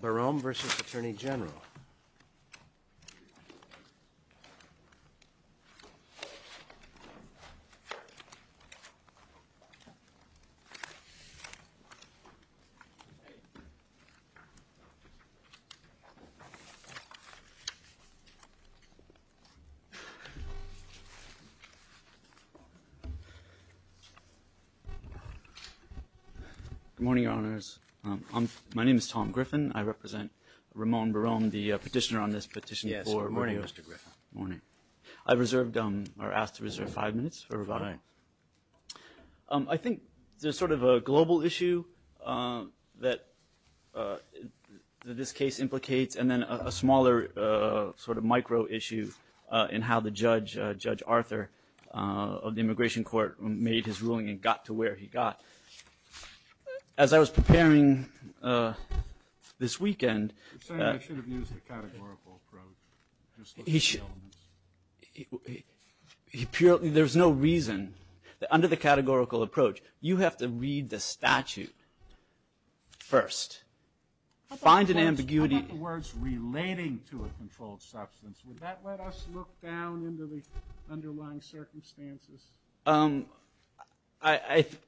Borrome vs. Attorney General Good morning, Your Honors. My name is Tom Griffin. I represent Ramone Borrome, the petitioner on this petition. Yes, good morning, Mr. Griffin. Morning. I reserved, or asked to reserve five minutes for rebuttal. I think there's sort of a global issue that this case implicates, and then a smaller sort of micro issue in how the judge, Judge Arthur, of the Immigration Court made his ruling and got to where he got. As I was preparing this weekend, he should, there's no reason, under the categorical approach, you have to read the statute first. Find an ambiguity. What about the words relating to a controlled substance? Would that let us look down into the underlying circumstances?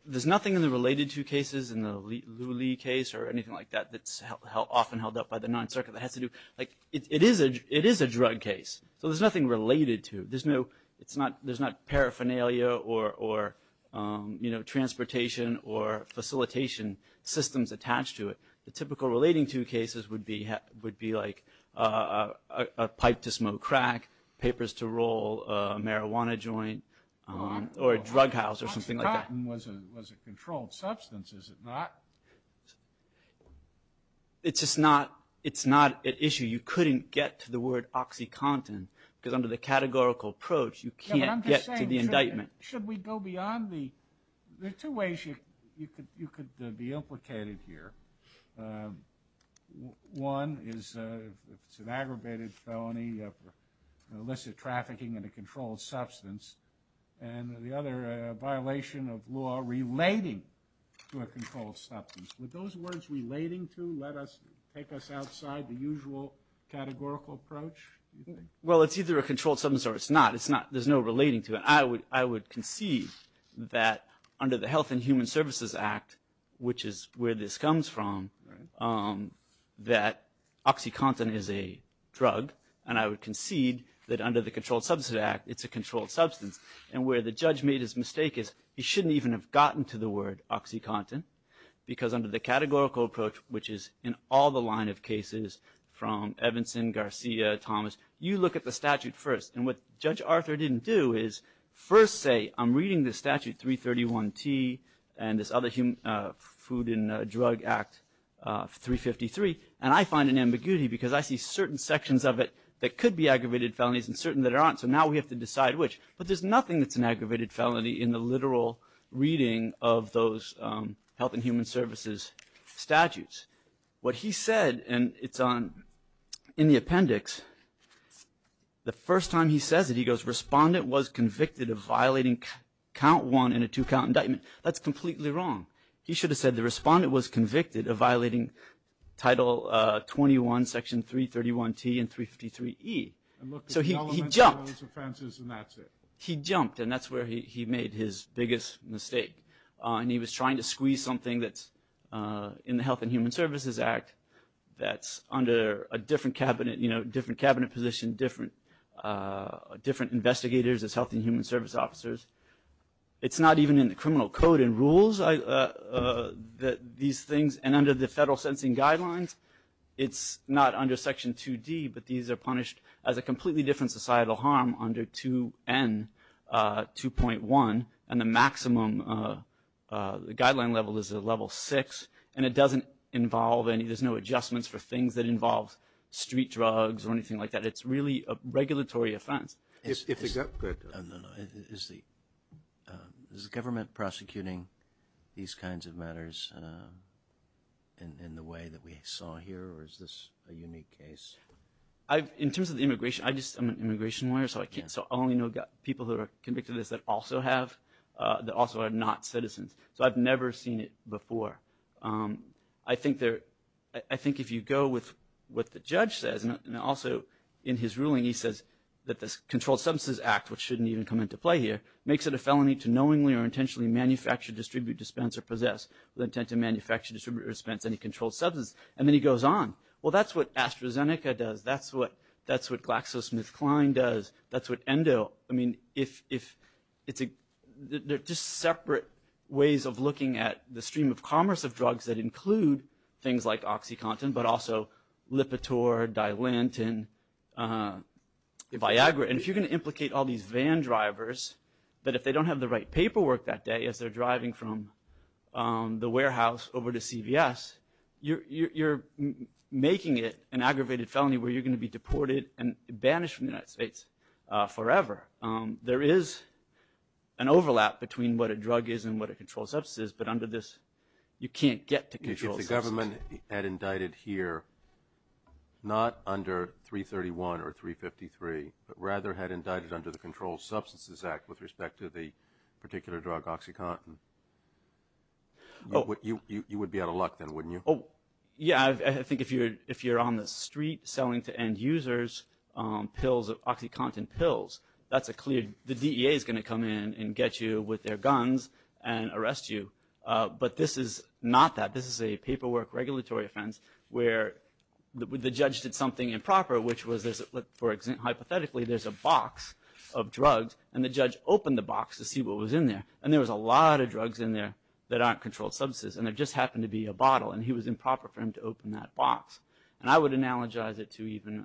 There's nothing in the related to cases, in the Lully case or anything like that, that's often held up by the Ninth Circuit that has to do, like, it is a drug case. So there's nothing related to. There's no, there's not paraphernalia or transportation or facilitation systems attached to it. The typical relating to cases would be like a pipe to smoke crack, papers to roll a marijuana joint, or a drug house, or something like that. OxyContin was a controlled substance, is it not? It's just not, it's not an issue. You couldn't get to the word OxyContin, because under the categorical approach, you can't get to the indictment. Should we go beyond the, there are two ways you could be implicated here. One is if it's an aggravated felony, or illicit trafficking in a controlled substance. And the other, a violation of law relating to a controlled substance. Would those words relating to let us, take us outside the usual categorical approach? Well, it's either a controlled substance or it's not. It's not, there's no relating to it. I would concede that under the Health and Human Services Act, which is where this comes from, that OxyContin is a drug, and I would concede that under the Controlled Substance Act, it's a controlled substance. And where the judge made his mistake is, he shouldn't even have gotten to the word OxyContin, because under the categorical approach, which is in all the line of cases, from Evanson, Garcia, Thomas, you look at the statute first. And what Judge Arthur didn't do is, first say, I'm reading the statute 331T, and this other Food and Drug Act 353, and I find an ambiguity because I see certain sections of it that could be aggravated felonies and certain that aren't, so now we have to decide which. But there's nothing that's an aggravated felony in the literal reading of those Health and Human Services statutes. What he said, and it's on, in the appendix, the first time he says it, he goes, respondent was convicted of violating count one and a two count indictment. That's completely wrong. He should have said the respondent was convicted of violating title 21, section 331T and 353E. So he jumped, he jumped, and that's where he made his biggest mistake. And he was trying to squeeze something that's in the Health and Human Services Act, that's under a different cabinet, different cabinet position, different investigators as Health and Human Service Officers. It's not even in the criminal code and rules, these things, and under the federal sentencing guidelines, it's not under section 2D, but these are punished as a completely different societal harm under 2N, 2.1, and the maximum, the guideline level is a level six, and it doesn't involve any, there's no adjustments for things that involve street drugs or anything like that. It's really a regulatory offense. If they go, go ahead. No, no, no, is the government prosecuting these kinds of matters in the way that we saw here, or is this a unique case? I've, in terms of the immigration, I just, I'm an immigration lawyer, so I can't, so I only know people who are convicted of this that also have, that also are not citizens. So I've never seen it before. I think there, I think if you go with what the judge says, and also in his ruling he says that this Controlled Substance Act, which shouldn't even come into play here, makes it a felony to knowingly or intentionally manufacture, distribute, dispense, or possess with intent to manufacture, distribute, or dispense any controlled substance, and then he goes on. Well, that's what AstraZeneca does. That's what GlaxoSmithKline does. That's what Endo, I mean, if it's a, they're just separate ways of looking at the stream of commerce of drugs that include things like OxyContin, but also Lipitor, Dilantin, Viagra, and if you're gonna implicate all these van drivers, that if they don't have the right paperwork that day as they're driving from the warehouse over to CVS, you're making it an aggravated felony where you're gonna be deported and banished from the United States forever. There is an overlap between what a drug is and what a controlled substance is, but under this, you can't get to controlled substances. If the government had indicted here, not under 331 or 353, but rather had indicted under the Controlled Substances Act with respect to the particular drug, OxyContin, you would be out of luck then, wouldn't you? Yeah, I think if you're on the street selling to end users pills, OxyContin pills, that's a clear, the DEA's gonna come in and get you with their guns and arrest you, but this is not that. This is a paperwork regulatory offense where the judge did something improper, which was, hypothetically, there's a box of drugs, and the judge opened the box to see what was in there, and there was a lot of drugs in there that aren't controlled substances, and there just happened to be a bottle, and he was improper for him to open that box, and I would analogize it to even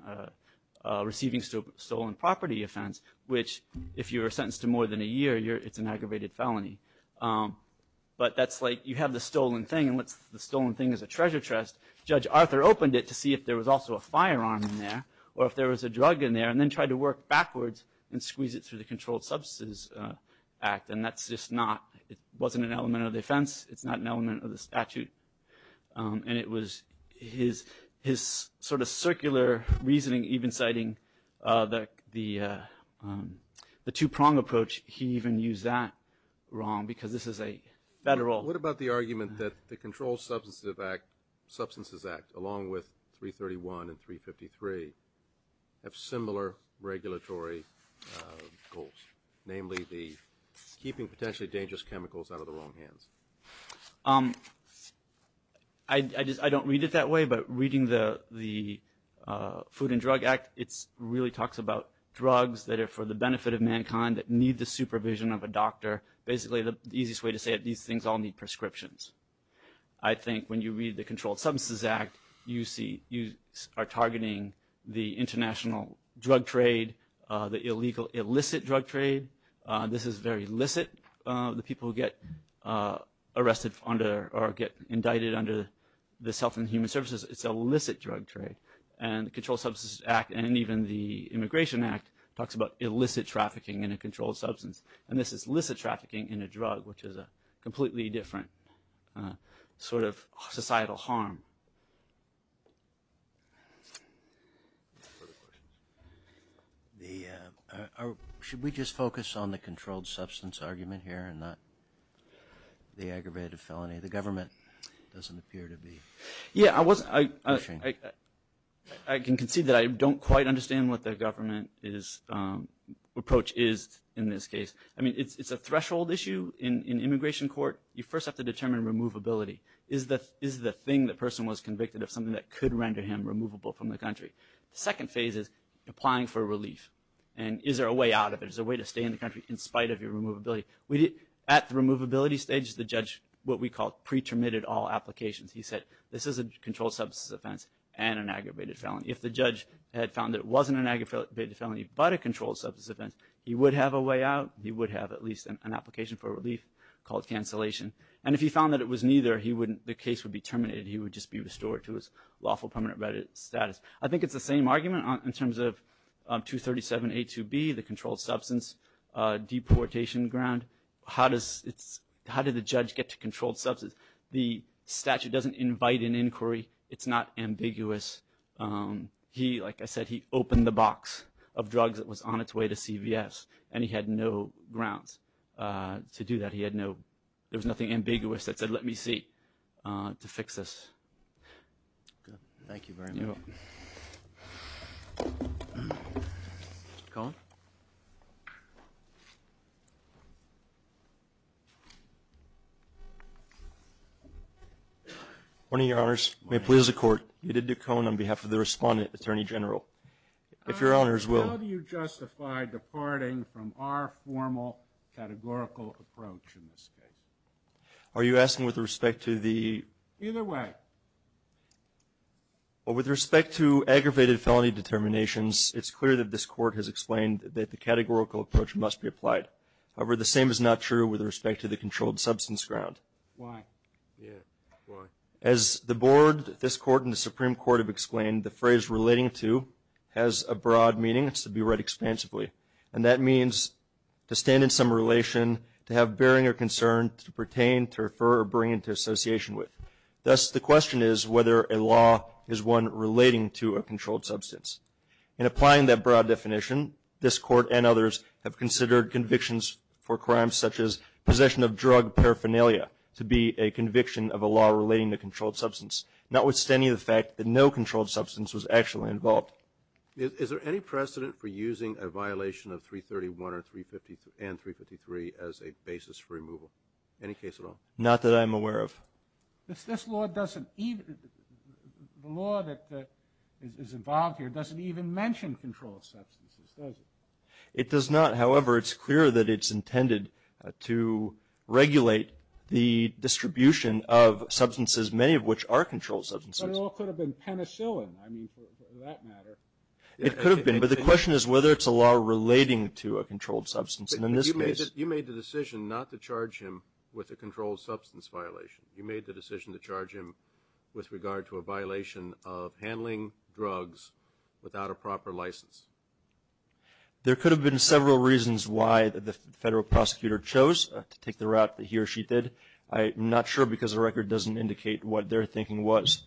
receiving stolen property offense, which, if you're sentenced to more than a year, it's an aggravated felony, but that's like, you have the stolen thing, and the stolen thing is a treasure chest, Judge Arthur opened it to see if there was also a firearm in there, or if there was a drug in there, and then tried to work backwards and squeeze it through the Controlled Substances Act, and that's just not, it wasn't an element of the offense, it's not an element of the statute, and it was his sort of circular reasoning, even citing the two-prong approach, he even used that wrong, because this is a federal. What about the argument that the Controlled Substances Act, along with 331 and 353, have similar regulatory goals, namely the keeping potentially dangerous chemicals out of the wrong hands? I don't read it that way, but reading the Food and Drug Act, it really talks about drugs that are for the benefit of mankind, that need the supervision of a doctor, basically the easiest way to say it, these things all need prescriptions. I think when you read the Controlled Substances Act, you see, you are targeting the international drug trade, the illegal illicit drug trade, this is very illicit, the people who get arrested under, or get indicted under the Self and Human Services, it's illicit drug trade, and the Controlled Substances Act, and even the Immigration Act, talks about illicit trafficking in a controlled substance, and this is illicit trafficking in a drug, which is a completely different sort of societal harm. Should we just focus on the controlled substance argument here and not the aggravated felony? The government doesn't appear to be pushing. Yeah, I can concede that I don't quite understand what the government approach is in this case. I mean, it's a threshold issue in immigration court. You first have to determine removability. Is the thing the person was convicted of something that could render him removable from the country? The second phase is applying for relief, and is there a way out of it? Is there a way to stay in the country in spite of your removability? At the removability stage, the judge, what we call pre-termitted all applications, he said, this is a controlled substance offense and an aggravated felony. If the judge had found that it wasn't an aggravated felony, but a controlled substance offense, he would have a way out. He would have at least an application for relief called cancellation. And if he found that it was neither, the case would be terminated. He would just be restored to his lawful permanent status. I think it's the same argument in terms of 237A2B, the controlled substance deportation ground. How did the judge get to controlled substance? The statute doesn't invite an inquiry. It's not ambiguous. He, like I said, he opened the box of drugs that was on its way to CVS. And he had no grounds to do that. He had no, there was nothing ambiguous that said, let me see to fix this. Thank you very much. Cohen. Morning, your honors. May it please the court. Edith Ducone on behalf of the respondent, attorney general. If your honors will. How do you justify departing from our formal categorical approach in this case? Are you asking with respect to the? Either way. Well, with respect to aggravated felony determinations, it's clear that this court has explained that the categorical approach must be applied. However, the same is not true with respect to the controlled substance ground. Why? Yeah, why? As the board, this court, and the Supreme Court have explained, the phrase relating to has a broad meaning. It's to be read expansively. And that means to stand in some relation, to have bearing or concern, to pertain, to refer or bring into association with. Thus, the question is whether a law is one relating to a controlled substance. In applying that broad definition, this court and others have considered convictions for crimes such as possession of drug paraphernalia to be a conviction of a law relating to controlled substance notwithstanding the fact that no controlled substance was actually involved. Is there any precedent for using a violation of 331 and 353 as a basis for removal? Any case at all? Not that I'm aware of. If this law doesn't even, the law that is involved here doesn't even mention controlled substances, does it? It does not. However, it's clear that it's intended to regulate the distribution of substances, many of which are controlled substances. But it all could have been penicillin. For that matter. It could have been, but the question is whether it's a law relating to a controlled substance. And in this case. You made the decision not to charge him with a controlled substance violation. You made the decision to charge him with regard to a violation of handling drugs without a proper license. There could have been several reasons why the federal prosecutor chose to take the route that he or she did. I'm not sure because the record doesn't indicate what their thinking was.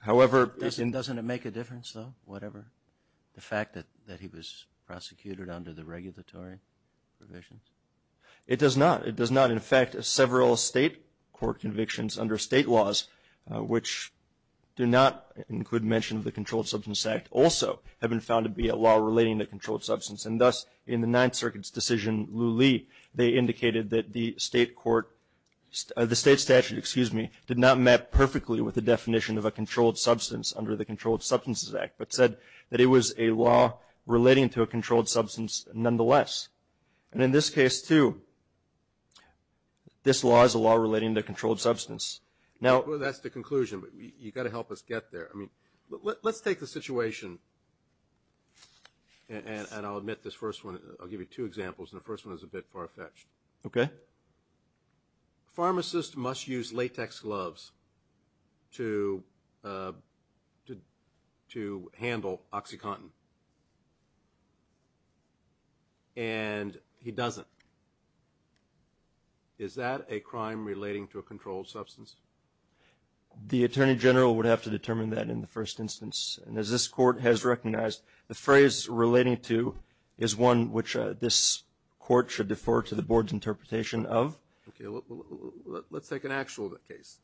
However. Doesn't it make a difference though? Whatever. The fact that he was prosecuted under the regulatory provisions. It does not. It does not. In fact, several state court convictions under state laws which do not include mention of the Controlled Substance Act also have been found to be a law relating to controlled substance. And thus, in the Ninth Circuit's decision, Lou Lee, they indicated that the state court, the state statute, excuse me, did not map perfectly with the definition of a controlled substance under the Controlled Substances Act, but said that it was a law relating to a controlled substance nonetheless. And in this case too, this law is a law relating to a controlled substance. Now. Well, that's the conclusion, but you gotta help us get there. I mean, let's take the situation. And I'll admit this first one, I'll give you two examples, and the first one is a bit far-fetched. Okay. Pharmacists must use latex gloves to handle OxyContin. And he doesn't. Is that a crime relating to a controlled substance? The Attorney General would have to determine that in the first instance. And as this court has recognized, the phrase relating to is one which this court should defer to the board's interpretation of. Okay, let's take an actual case.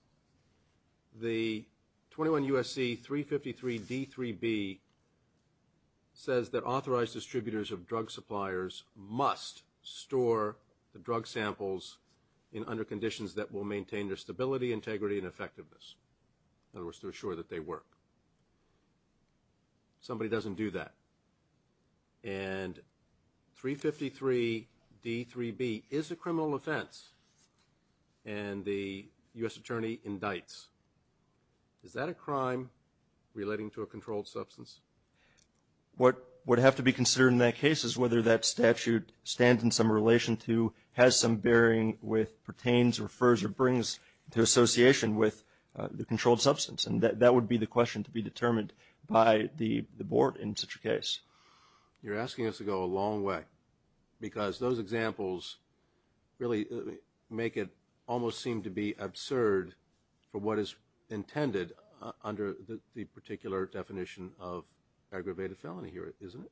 The 21 U.S.C. 353 D3B says that authorized distributors of drug suppliers must store the drug samples in under conditions that will maintain their stability, integrity, and effectiveness. In other words, to assure that they work. Somebody doesn't do that. And 353 D3B is a criminal offense. And the U.S. Attorney indicts. Is that a crime relating to a controlled substance? What would have to be considered in that case is whether that statute stands in some relation to, has some bearing with, pertains, refers, or brings to association with the controlled substance. And that would be the question to be determined by the board in such a case. You're asking us to go a long way. Because those examples really make it almost seem to be absurd for what is intended under the particular definition of aggravated felony here, isn't it?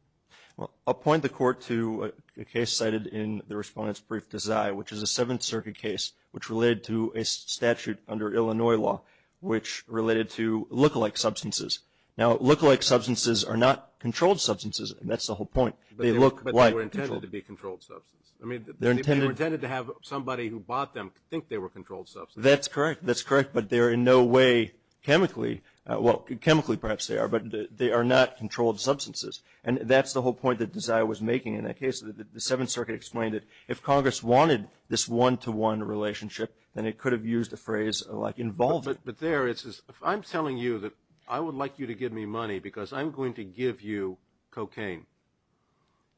Well, I'll point the court to a case cited in the Respondent's Brief Desire, which is a Seventh Circuit case which related to a statute under Illinois law which related to lookalike substances. Now, lookalike substances are not controlled substances, and that's the whole point. They look like controlled. But they were intended to be controlled substances. I mean, they were intended to have somebody who bought them think they were controlled substances. That's correct, that's correct. But they're in no way chemically, well, chemically perhaps they are, but they are not controlled substances. And that's the whole point that Desire was making in that case. The Seventh Circuit explained it. If Congress wanted this one-to-one relationship, then it could have used a phrase like involved. But there, it says, I'm telling you that I would like you to give me money because I'm going to give you cocaine.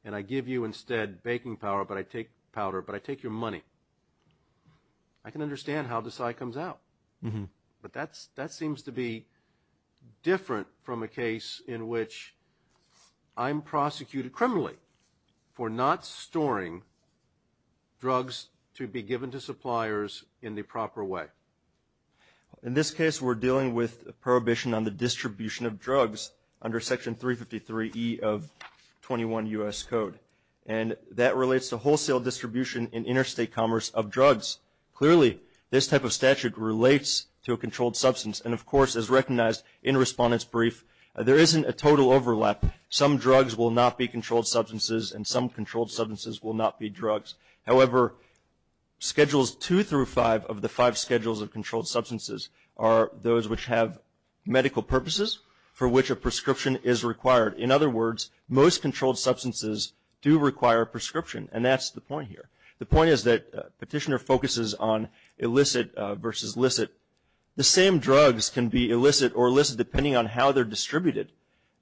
And I give you instead baking powder, but I take powder, but I take your money. I can understand how Desire comes out. But that seems to be different from a case in which I'm prosecuted criminally for not storing drugs to be given to suppliers in the proper way. In this case, we're dealing with a prohibition on the distribution of drugs under Section 353E of 21 U.S. Code. And that relates to wholesale distribution in interstate commerce of drugs. Clearly, this type of statute relates to a controlled substance. And of course, as recognized in Respondent's Brief, there isn't a total overlap. Some drugs will not be controlled substances, and some controlled substances will not be drugs. However, schedules two through five of the five schedules of controlled substances are those which have medical purposes for which a prescription is required. In other words, most controlled substances do require a prescription. And that's the point here. The point is that Petitioner focuses on illicit versus licit. The same drugs can be illicit or licit depending on how they're distributed.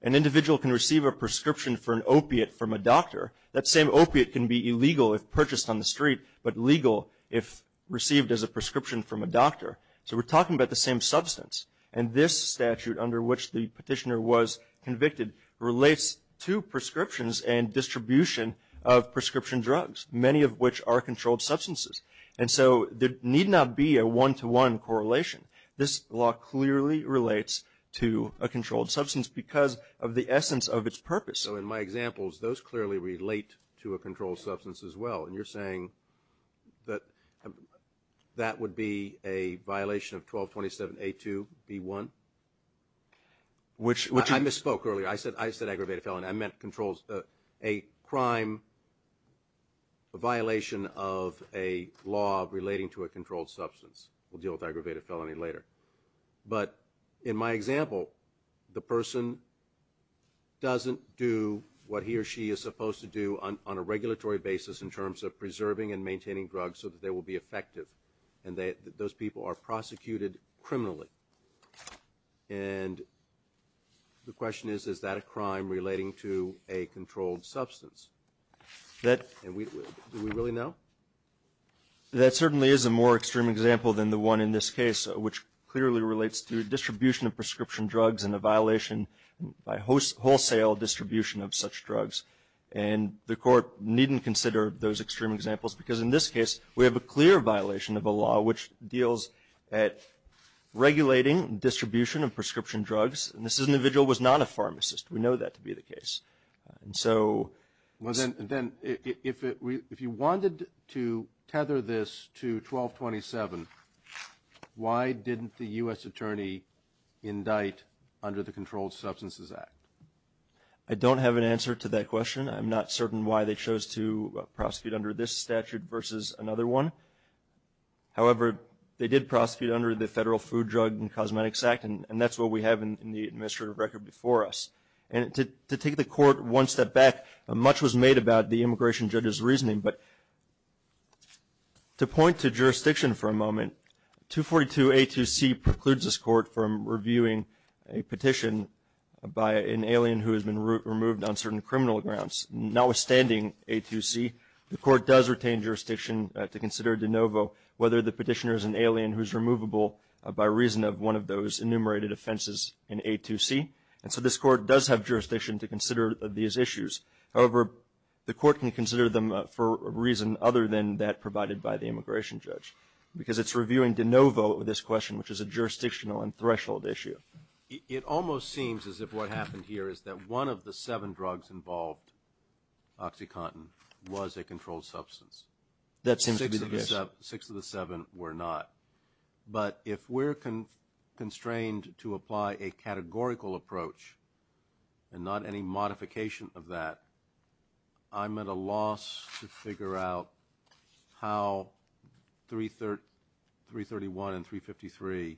An individual can receive a prescription for an opiate from a doctor. That same opiate can be illegal if purchased on the street, but legal if received as a prescription from a doctor. So we're talking about the same substance. And this statute, under which the Petitioner was convicted, relates to prescriptions and distribution of prescription drugs, many of which are controlled substances. And so there need not be a one-to-one correlation. This law clearly relates to a controlled substance because of the essence of its purpose. So in my examples, those clearly relate to a controlled substance as well. And you're saying that that would be a violation of 1227A2-B1? Which I misspoke earlier. I said aggravated felony. I meant a crime, a violation of a law relating to a controlled substance. We'll deal with aggravated felony later. But in my example, the person doesn't do what he or she is supposed to do on a regulatory basis in terms of preserving and maintaining drugs so that they will be effective. And those people are prosecuted criminally. And the question is, is that a crime relating to a controlled substance? Do we really know? That certainly is a more extreme example than the one in this case, which clearly relates to a distribution of prescription drugs and a violation by wholesale distribution of such drugs. And the court needn't consider those extreme examples because in this case, we have a clear violation of a law which deals at regulating distribution of prescription drugs. And this individual was not a pharmacist. We know that to be the case. And so. Well then, if you wanted to tether this to 1227, why didn't the U.S. Attorney indict under the Controlled Substances Act? I'm not certain why they chose to prosecute under this statute versus another one. However, they did prosecute under the Federal Food, Drug, and Cosmetics Act, and that's what we have in the administrative record before us. And to take the court one step back, much was made about the immigration judge's reasoning, but to point to jurisdiction for a moment, 242A2C precludes this court from reviewing a petition by an alien who has been removed on certain criminal grounds. Notwithstanding A2C, the court does retain jurisdiction to consider de novo whether the petitioner is an alien who's removable by reason of one of those enumerated offenses in A2C. And so this court does have jurisdiction to consider these issues. However, the court can consider them for a reason other than that provided by the immigration judge because it's reviewing de novo this question, which is a jurisdictional and threshold issue. It almost seems as if what happened here is that one of the seven drugs involved, OxyContin, was a controlled substance. That seems to be the case. Six of the seven were not. But if we're constrained to apply a categorical approach and not any modification of that, I'm at a loss to figure out how 331 and 353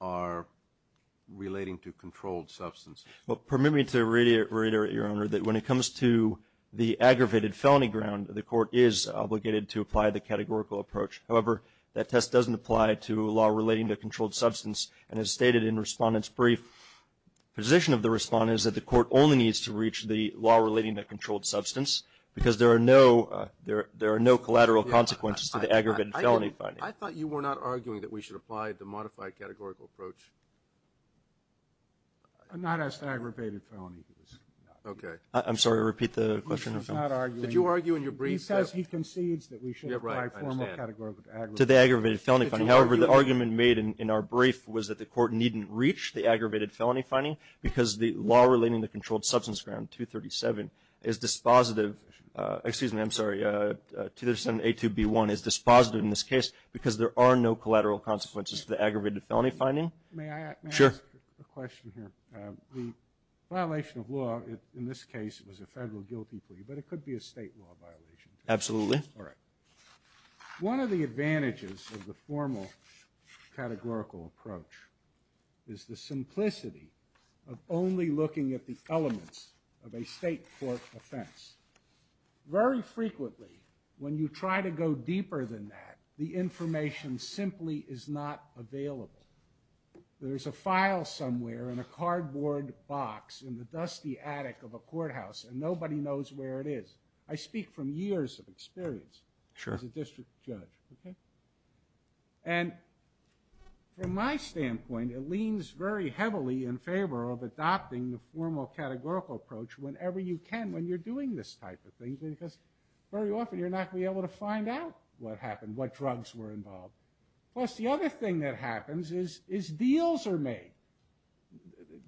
are relating to controlled substance. Well, permit me to reiterate, Your Honor, that when it comes to the aggravated felony ground, the court is obligated to apply the categorical approach. However, that test doesn't apply to a law relating to controlled substance. And as stated in Respondent's brief, position of the Respondent is that the court only needs to reach the law relating to controlled substance because there are no collateral consequences to the aggravated felony finding. I thought you were not arguing that we should apply the modified categorical approach. Not as the aggravated felony. Okay. I'm sorry, repeat the question. I was not arguing. Did you argue in your brief that? He says he concedes that we should apply formal categorical approach. To the aggravated felony finding. However, the argument made in our brief was that the court needn't reach the aggravated felony finding because the law relating to controlled substance ground 237 is dispositive, excuse me, I'm sorry, 237A2B1 is dispositive in this case because there are no collateral consequences to the aggravated felony finding. May I ask a question here? The violation of law in this case was a federal guilty plea, but it could be a state law violation. Absolutely. One of the advantages of the formal categorical approach is the simplicity of only looking at the elements of a state court offense. Very frequently, when you try to go deeper than that, the information simply is not available. There's a file somewhere in a cardboard box in the dusty attic of a courthouse and nobody knows where it is. I speak from years of experience as a district judge. And from my standpoint, it leans very heavily in favor of adopting the formal categorical approach whenever you can when you're doing this type of thing because very often you're not gonna be able to find out what happened, what drugs were involved. Plus the other thing that happens is deals are made.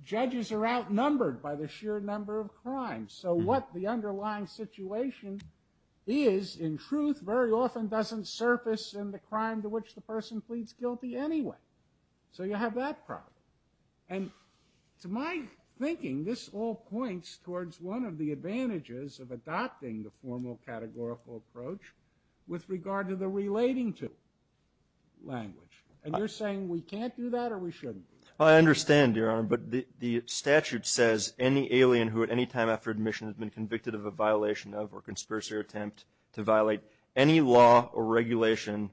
Judges are outnumbered by the sheer number of crimes. So what the underlying situation is in truth very often doesn't surface in the crime to which the person pleads guilty anyway. So you have that problem. And to my thinking, this all points towards one of the advantages of adopting the formal categorical approach with regard to the relating to language. And you're saying we can't do that or we shouldn't? I understand, Your Honor, but the statute says any alien who at any time after admission has been convicted of a violation of or conspiracy attempt to violate any law or regulation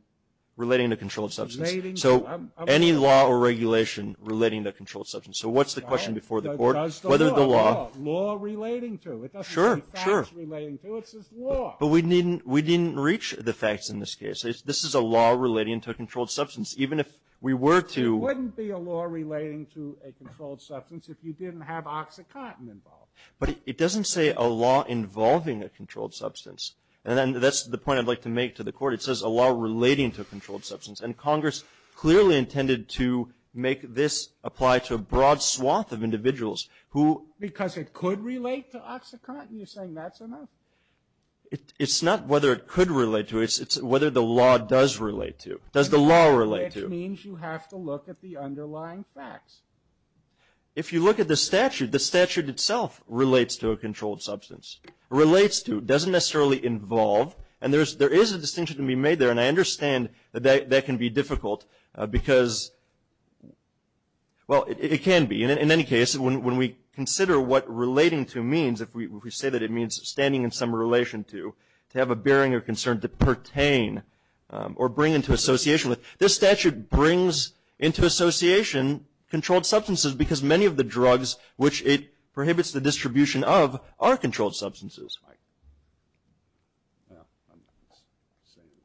relating to controlled substance. So any law or regulation relating to controlled substance. So what's the question before the court? Whether the law. Law relating to. Sure, sure. It doesn't say facts relating to, it says law. But we didn't reach the facts in this case. This is a law relating to a controlled substance. Even if we were to. It wouldn't be a law relating to a controlled substance if you didn't have OxyContin involved. But it doesn't say a law involving a controlled substance. And that's the point I'd like to make to the court. It says a law relating to a controlled substance. And Congress clearly intended to make this apply to a broad swath of individuals who. Because it could relate to OxyContin. You're saying that's enough. It's not whether it could relate to it. It's whether the law does relate to. Does the law relate to. Which means you have to look at the underlying facts. If you look at the statute, the statute itself relates to a controlled substance. Relates to, doesn't necessarily involve. And there is a distinction to be made there. And I understand that that can be difficult. Because, well, it can be. In any case, when we consider what relating to means. If we say that it means standing in some relation to. To have a bearing or concern to pertain. Or bring into association with. This statute brings into association controlled substances. Because many of the drugs which it prohibits the distribution of are controlled substances.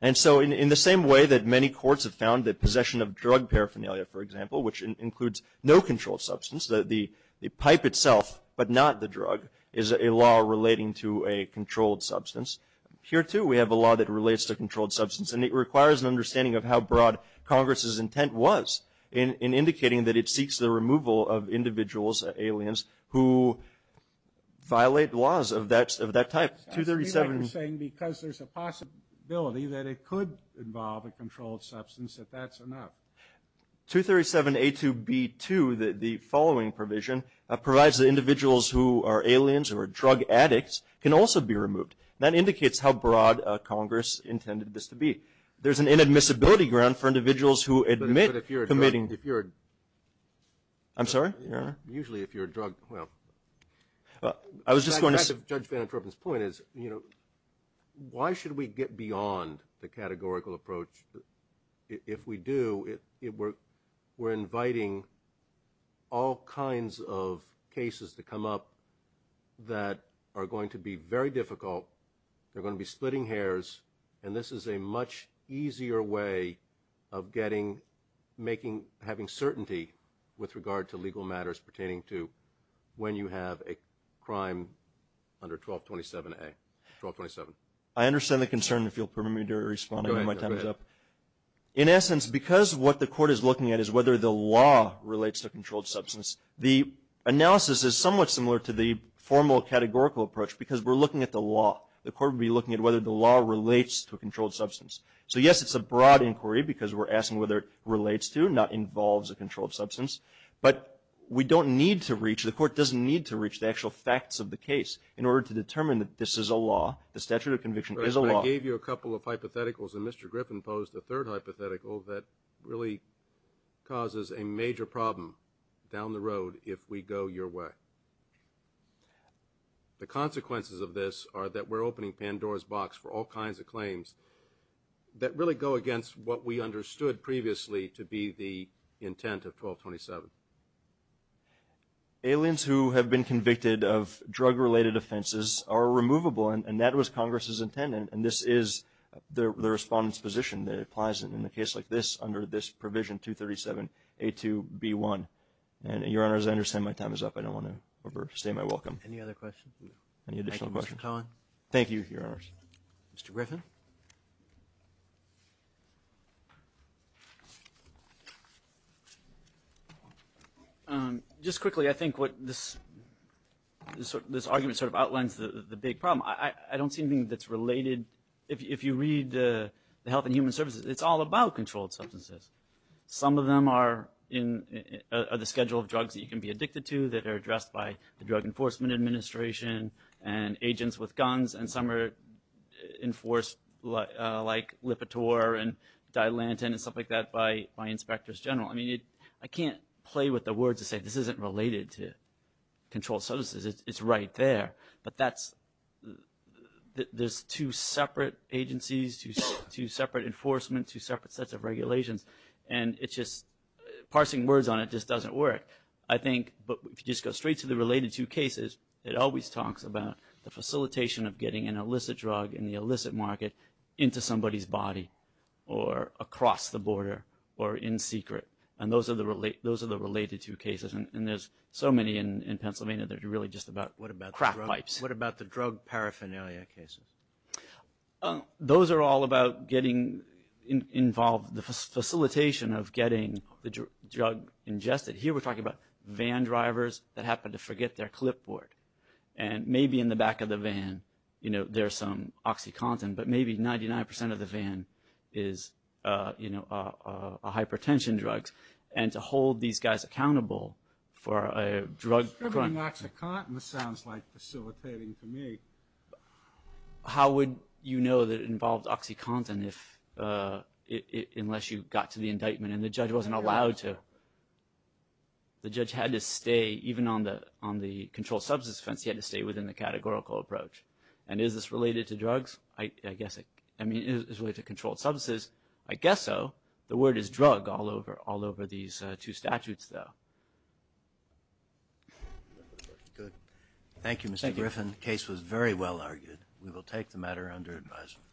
And so in the same way that many courts have found that possession of drug paraphernalia, for example. Which includes no controlled substance. The pipe itself, but not the drug. Is a law relating to a controlled substance. Here too, we have a law that relates to controlled substance. And it requires an understanding of how broad Congress's intent was in indicating that it seeks the removal of individuals, aliens, who violate laws of that type. 237. I see what you're saying because there's a possibility that it could involve a controlled substance if that's enough. 237.A2.B.2, the following provision, provides that individuals who are aliens or drug addicts can also be removed. That indicates how broad Congress intended this to be. There's an inadmissibility ground for individuals who admit committing. If you're a. I'm sorry? Usually if you're a drug, well. I was just going to say. Judge Van Antropen's point is, you know. Why should we get beyond the categorical approach? If we do, we're inviting all kinds of cases to come up that are going to be very difficult. They're going to be splitting hairs. And this is a much easier way of getting, making, having certainty with regard to legal matters pertaining to when you have a crime under 1227.A. 1227. I understand the concern if you'll permit me to respond and my time is up. In essence, because what the court is looking at is whether the law relates to a controlled substance, the analysis is somewhat similar to the formal categorical approach because we're looking at the law. The court would be looking at whether the law relates to a controlled substance. So yes, it's a broad inquiry because we're asking whether it relates to, not involves a controlled substance. But we don't need to reach, the court doesn't need to reach the actual facts of the case in order to determine that this is a law, the statute of conviction is a law. I gave you a couple of hypotheticals and Mr. Griffin posed a third hypothetical that really causes a major problem down the road if we go your way. The consequences of this are that we're opening Pandora's box for all kinds of claims that really go against what we understood previously to be the intent of 1227. Aliens who have been convicted of drug-related offenses are removable and that was Congress's intent. And this is the respondent's position that applies in a case like this under this provision 237A2B1. And your honors, I understand my time is up. I don't want to overstay my welcome. Any other questions? Any additional questions? Thank you, your honors. Mr. Griffin. Just quickly, I think what this argument sort of outlines the big problem. I don't see anything that's related. If you read the Health and Human Services, it's all about controlled substances. Some of them are the schedule of drugs that you can be addicted to that are addressed by the Drug Enforcement Administration and agents with guns and some are enforced like Lipitor and Dilantin and stuff like that by inspectors general. I mean, I can't play with the words to say this isn't related to controlled substances. It's right there. But that's, there's two separate agencies, two separate enforcement, two separate sets of regulations. And it's just, parsing words on it just doesn't work. I think, but if you just go straight to the related two cases, it always talks about the facilitation of getting an illicit drug in the illicit market into somebody's body or across the border or in secret. And those are the related two cases. And there's so many in Pennsylvania that are really just about crack pipes. What about the drug paraphernalia cases? Those are all about getting involved, the facilitation of getting the drug ingested. Here we're talking about van drivers that happen to forget their clipboard. And maybe in the back of the van, there's some OxyContin, but maybe 99% of the van is a hypertension drug. And to hold these guys accountable for a drug. Distributing OxyContin sounds like facilitating to me. How would you know that it involved OxyContin if, unless you got to the indictment and the judge wasn't allowed to. The judge had to stay, even on the controlled substance offense, he had to stay within the categorical approach. And is this related to drugs? I guess, I mean, is it related to controlled substances? I guess so. The word is drug all over these two statutes though. Good. Thank you, Mr. Griffin. Case was very well argued. We will take the matter under advisement.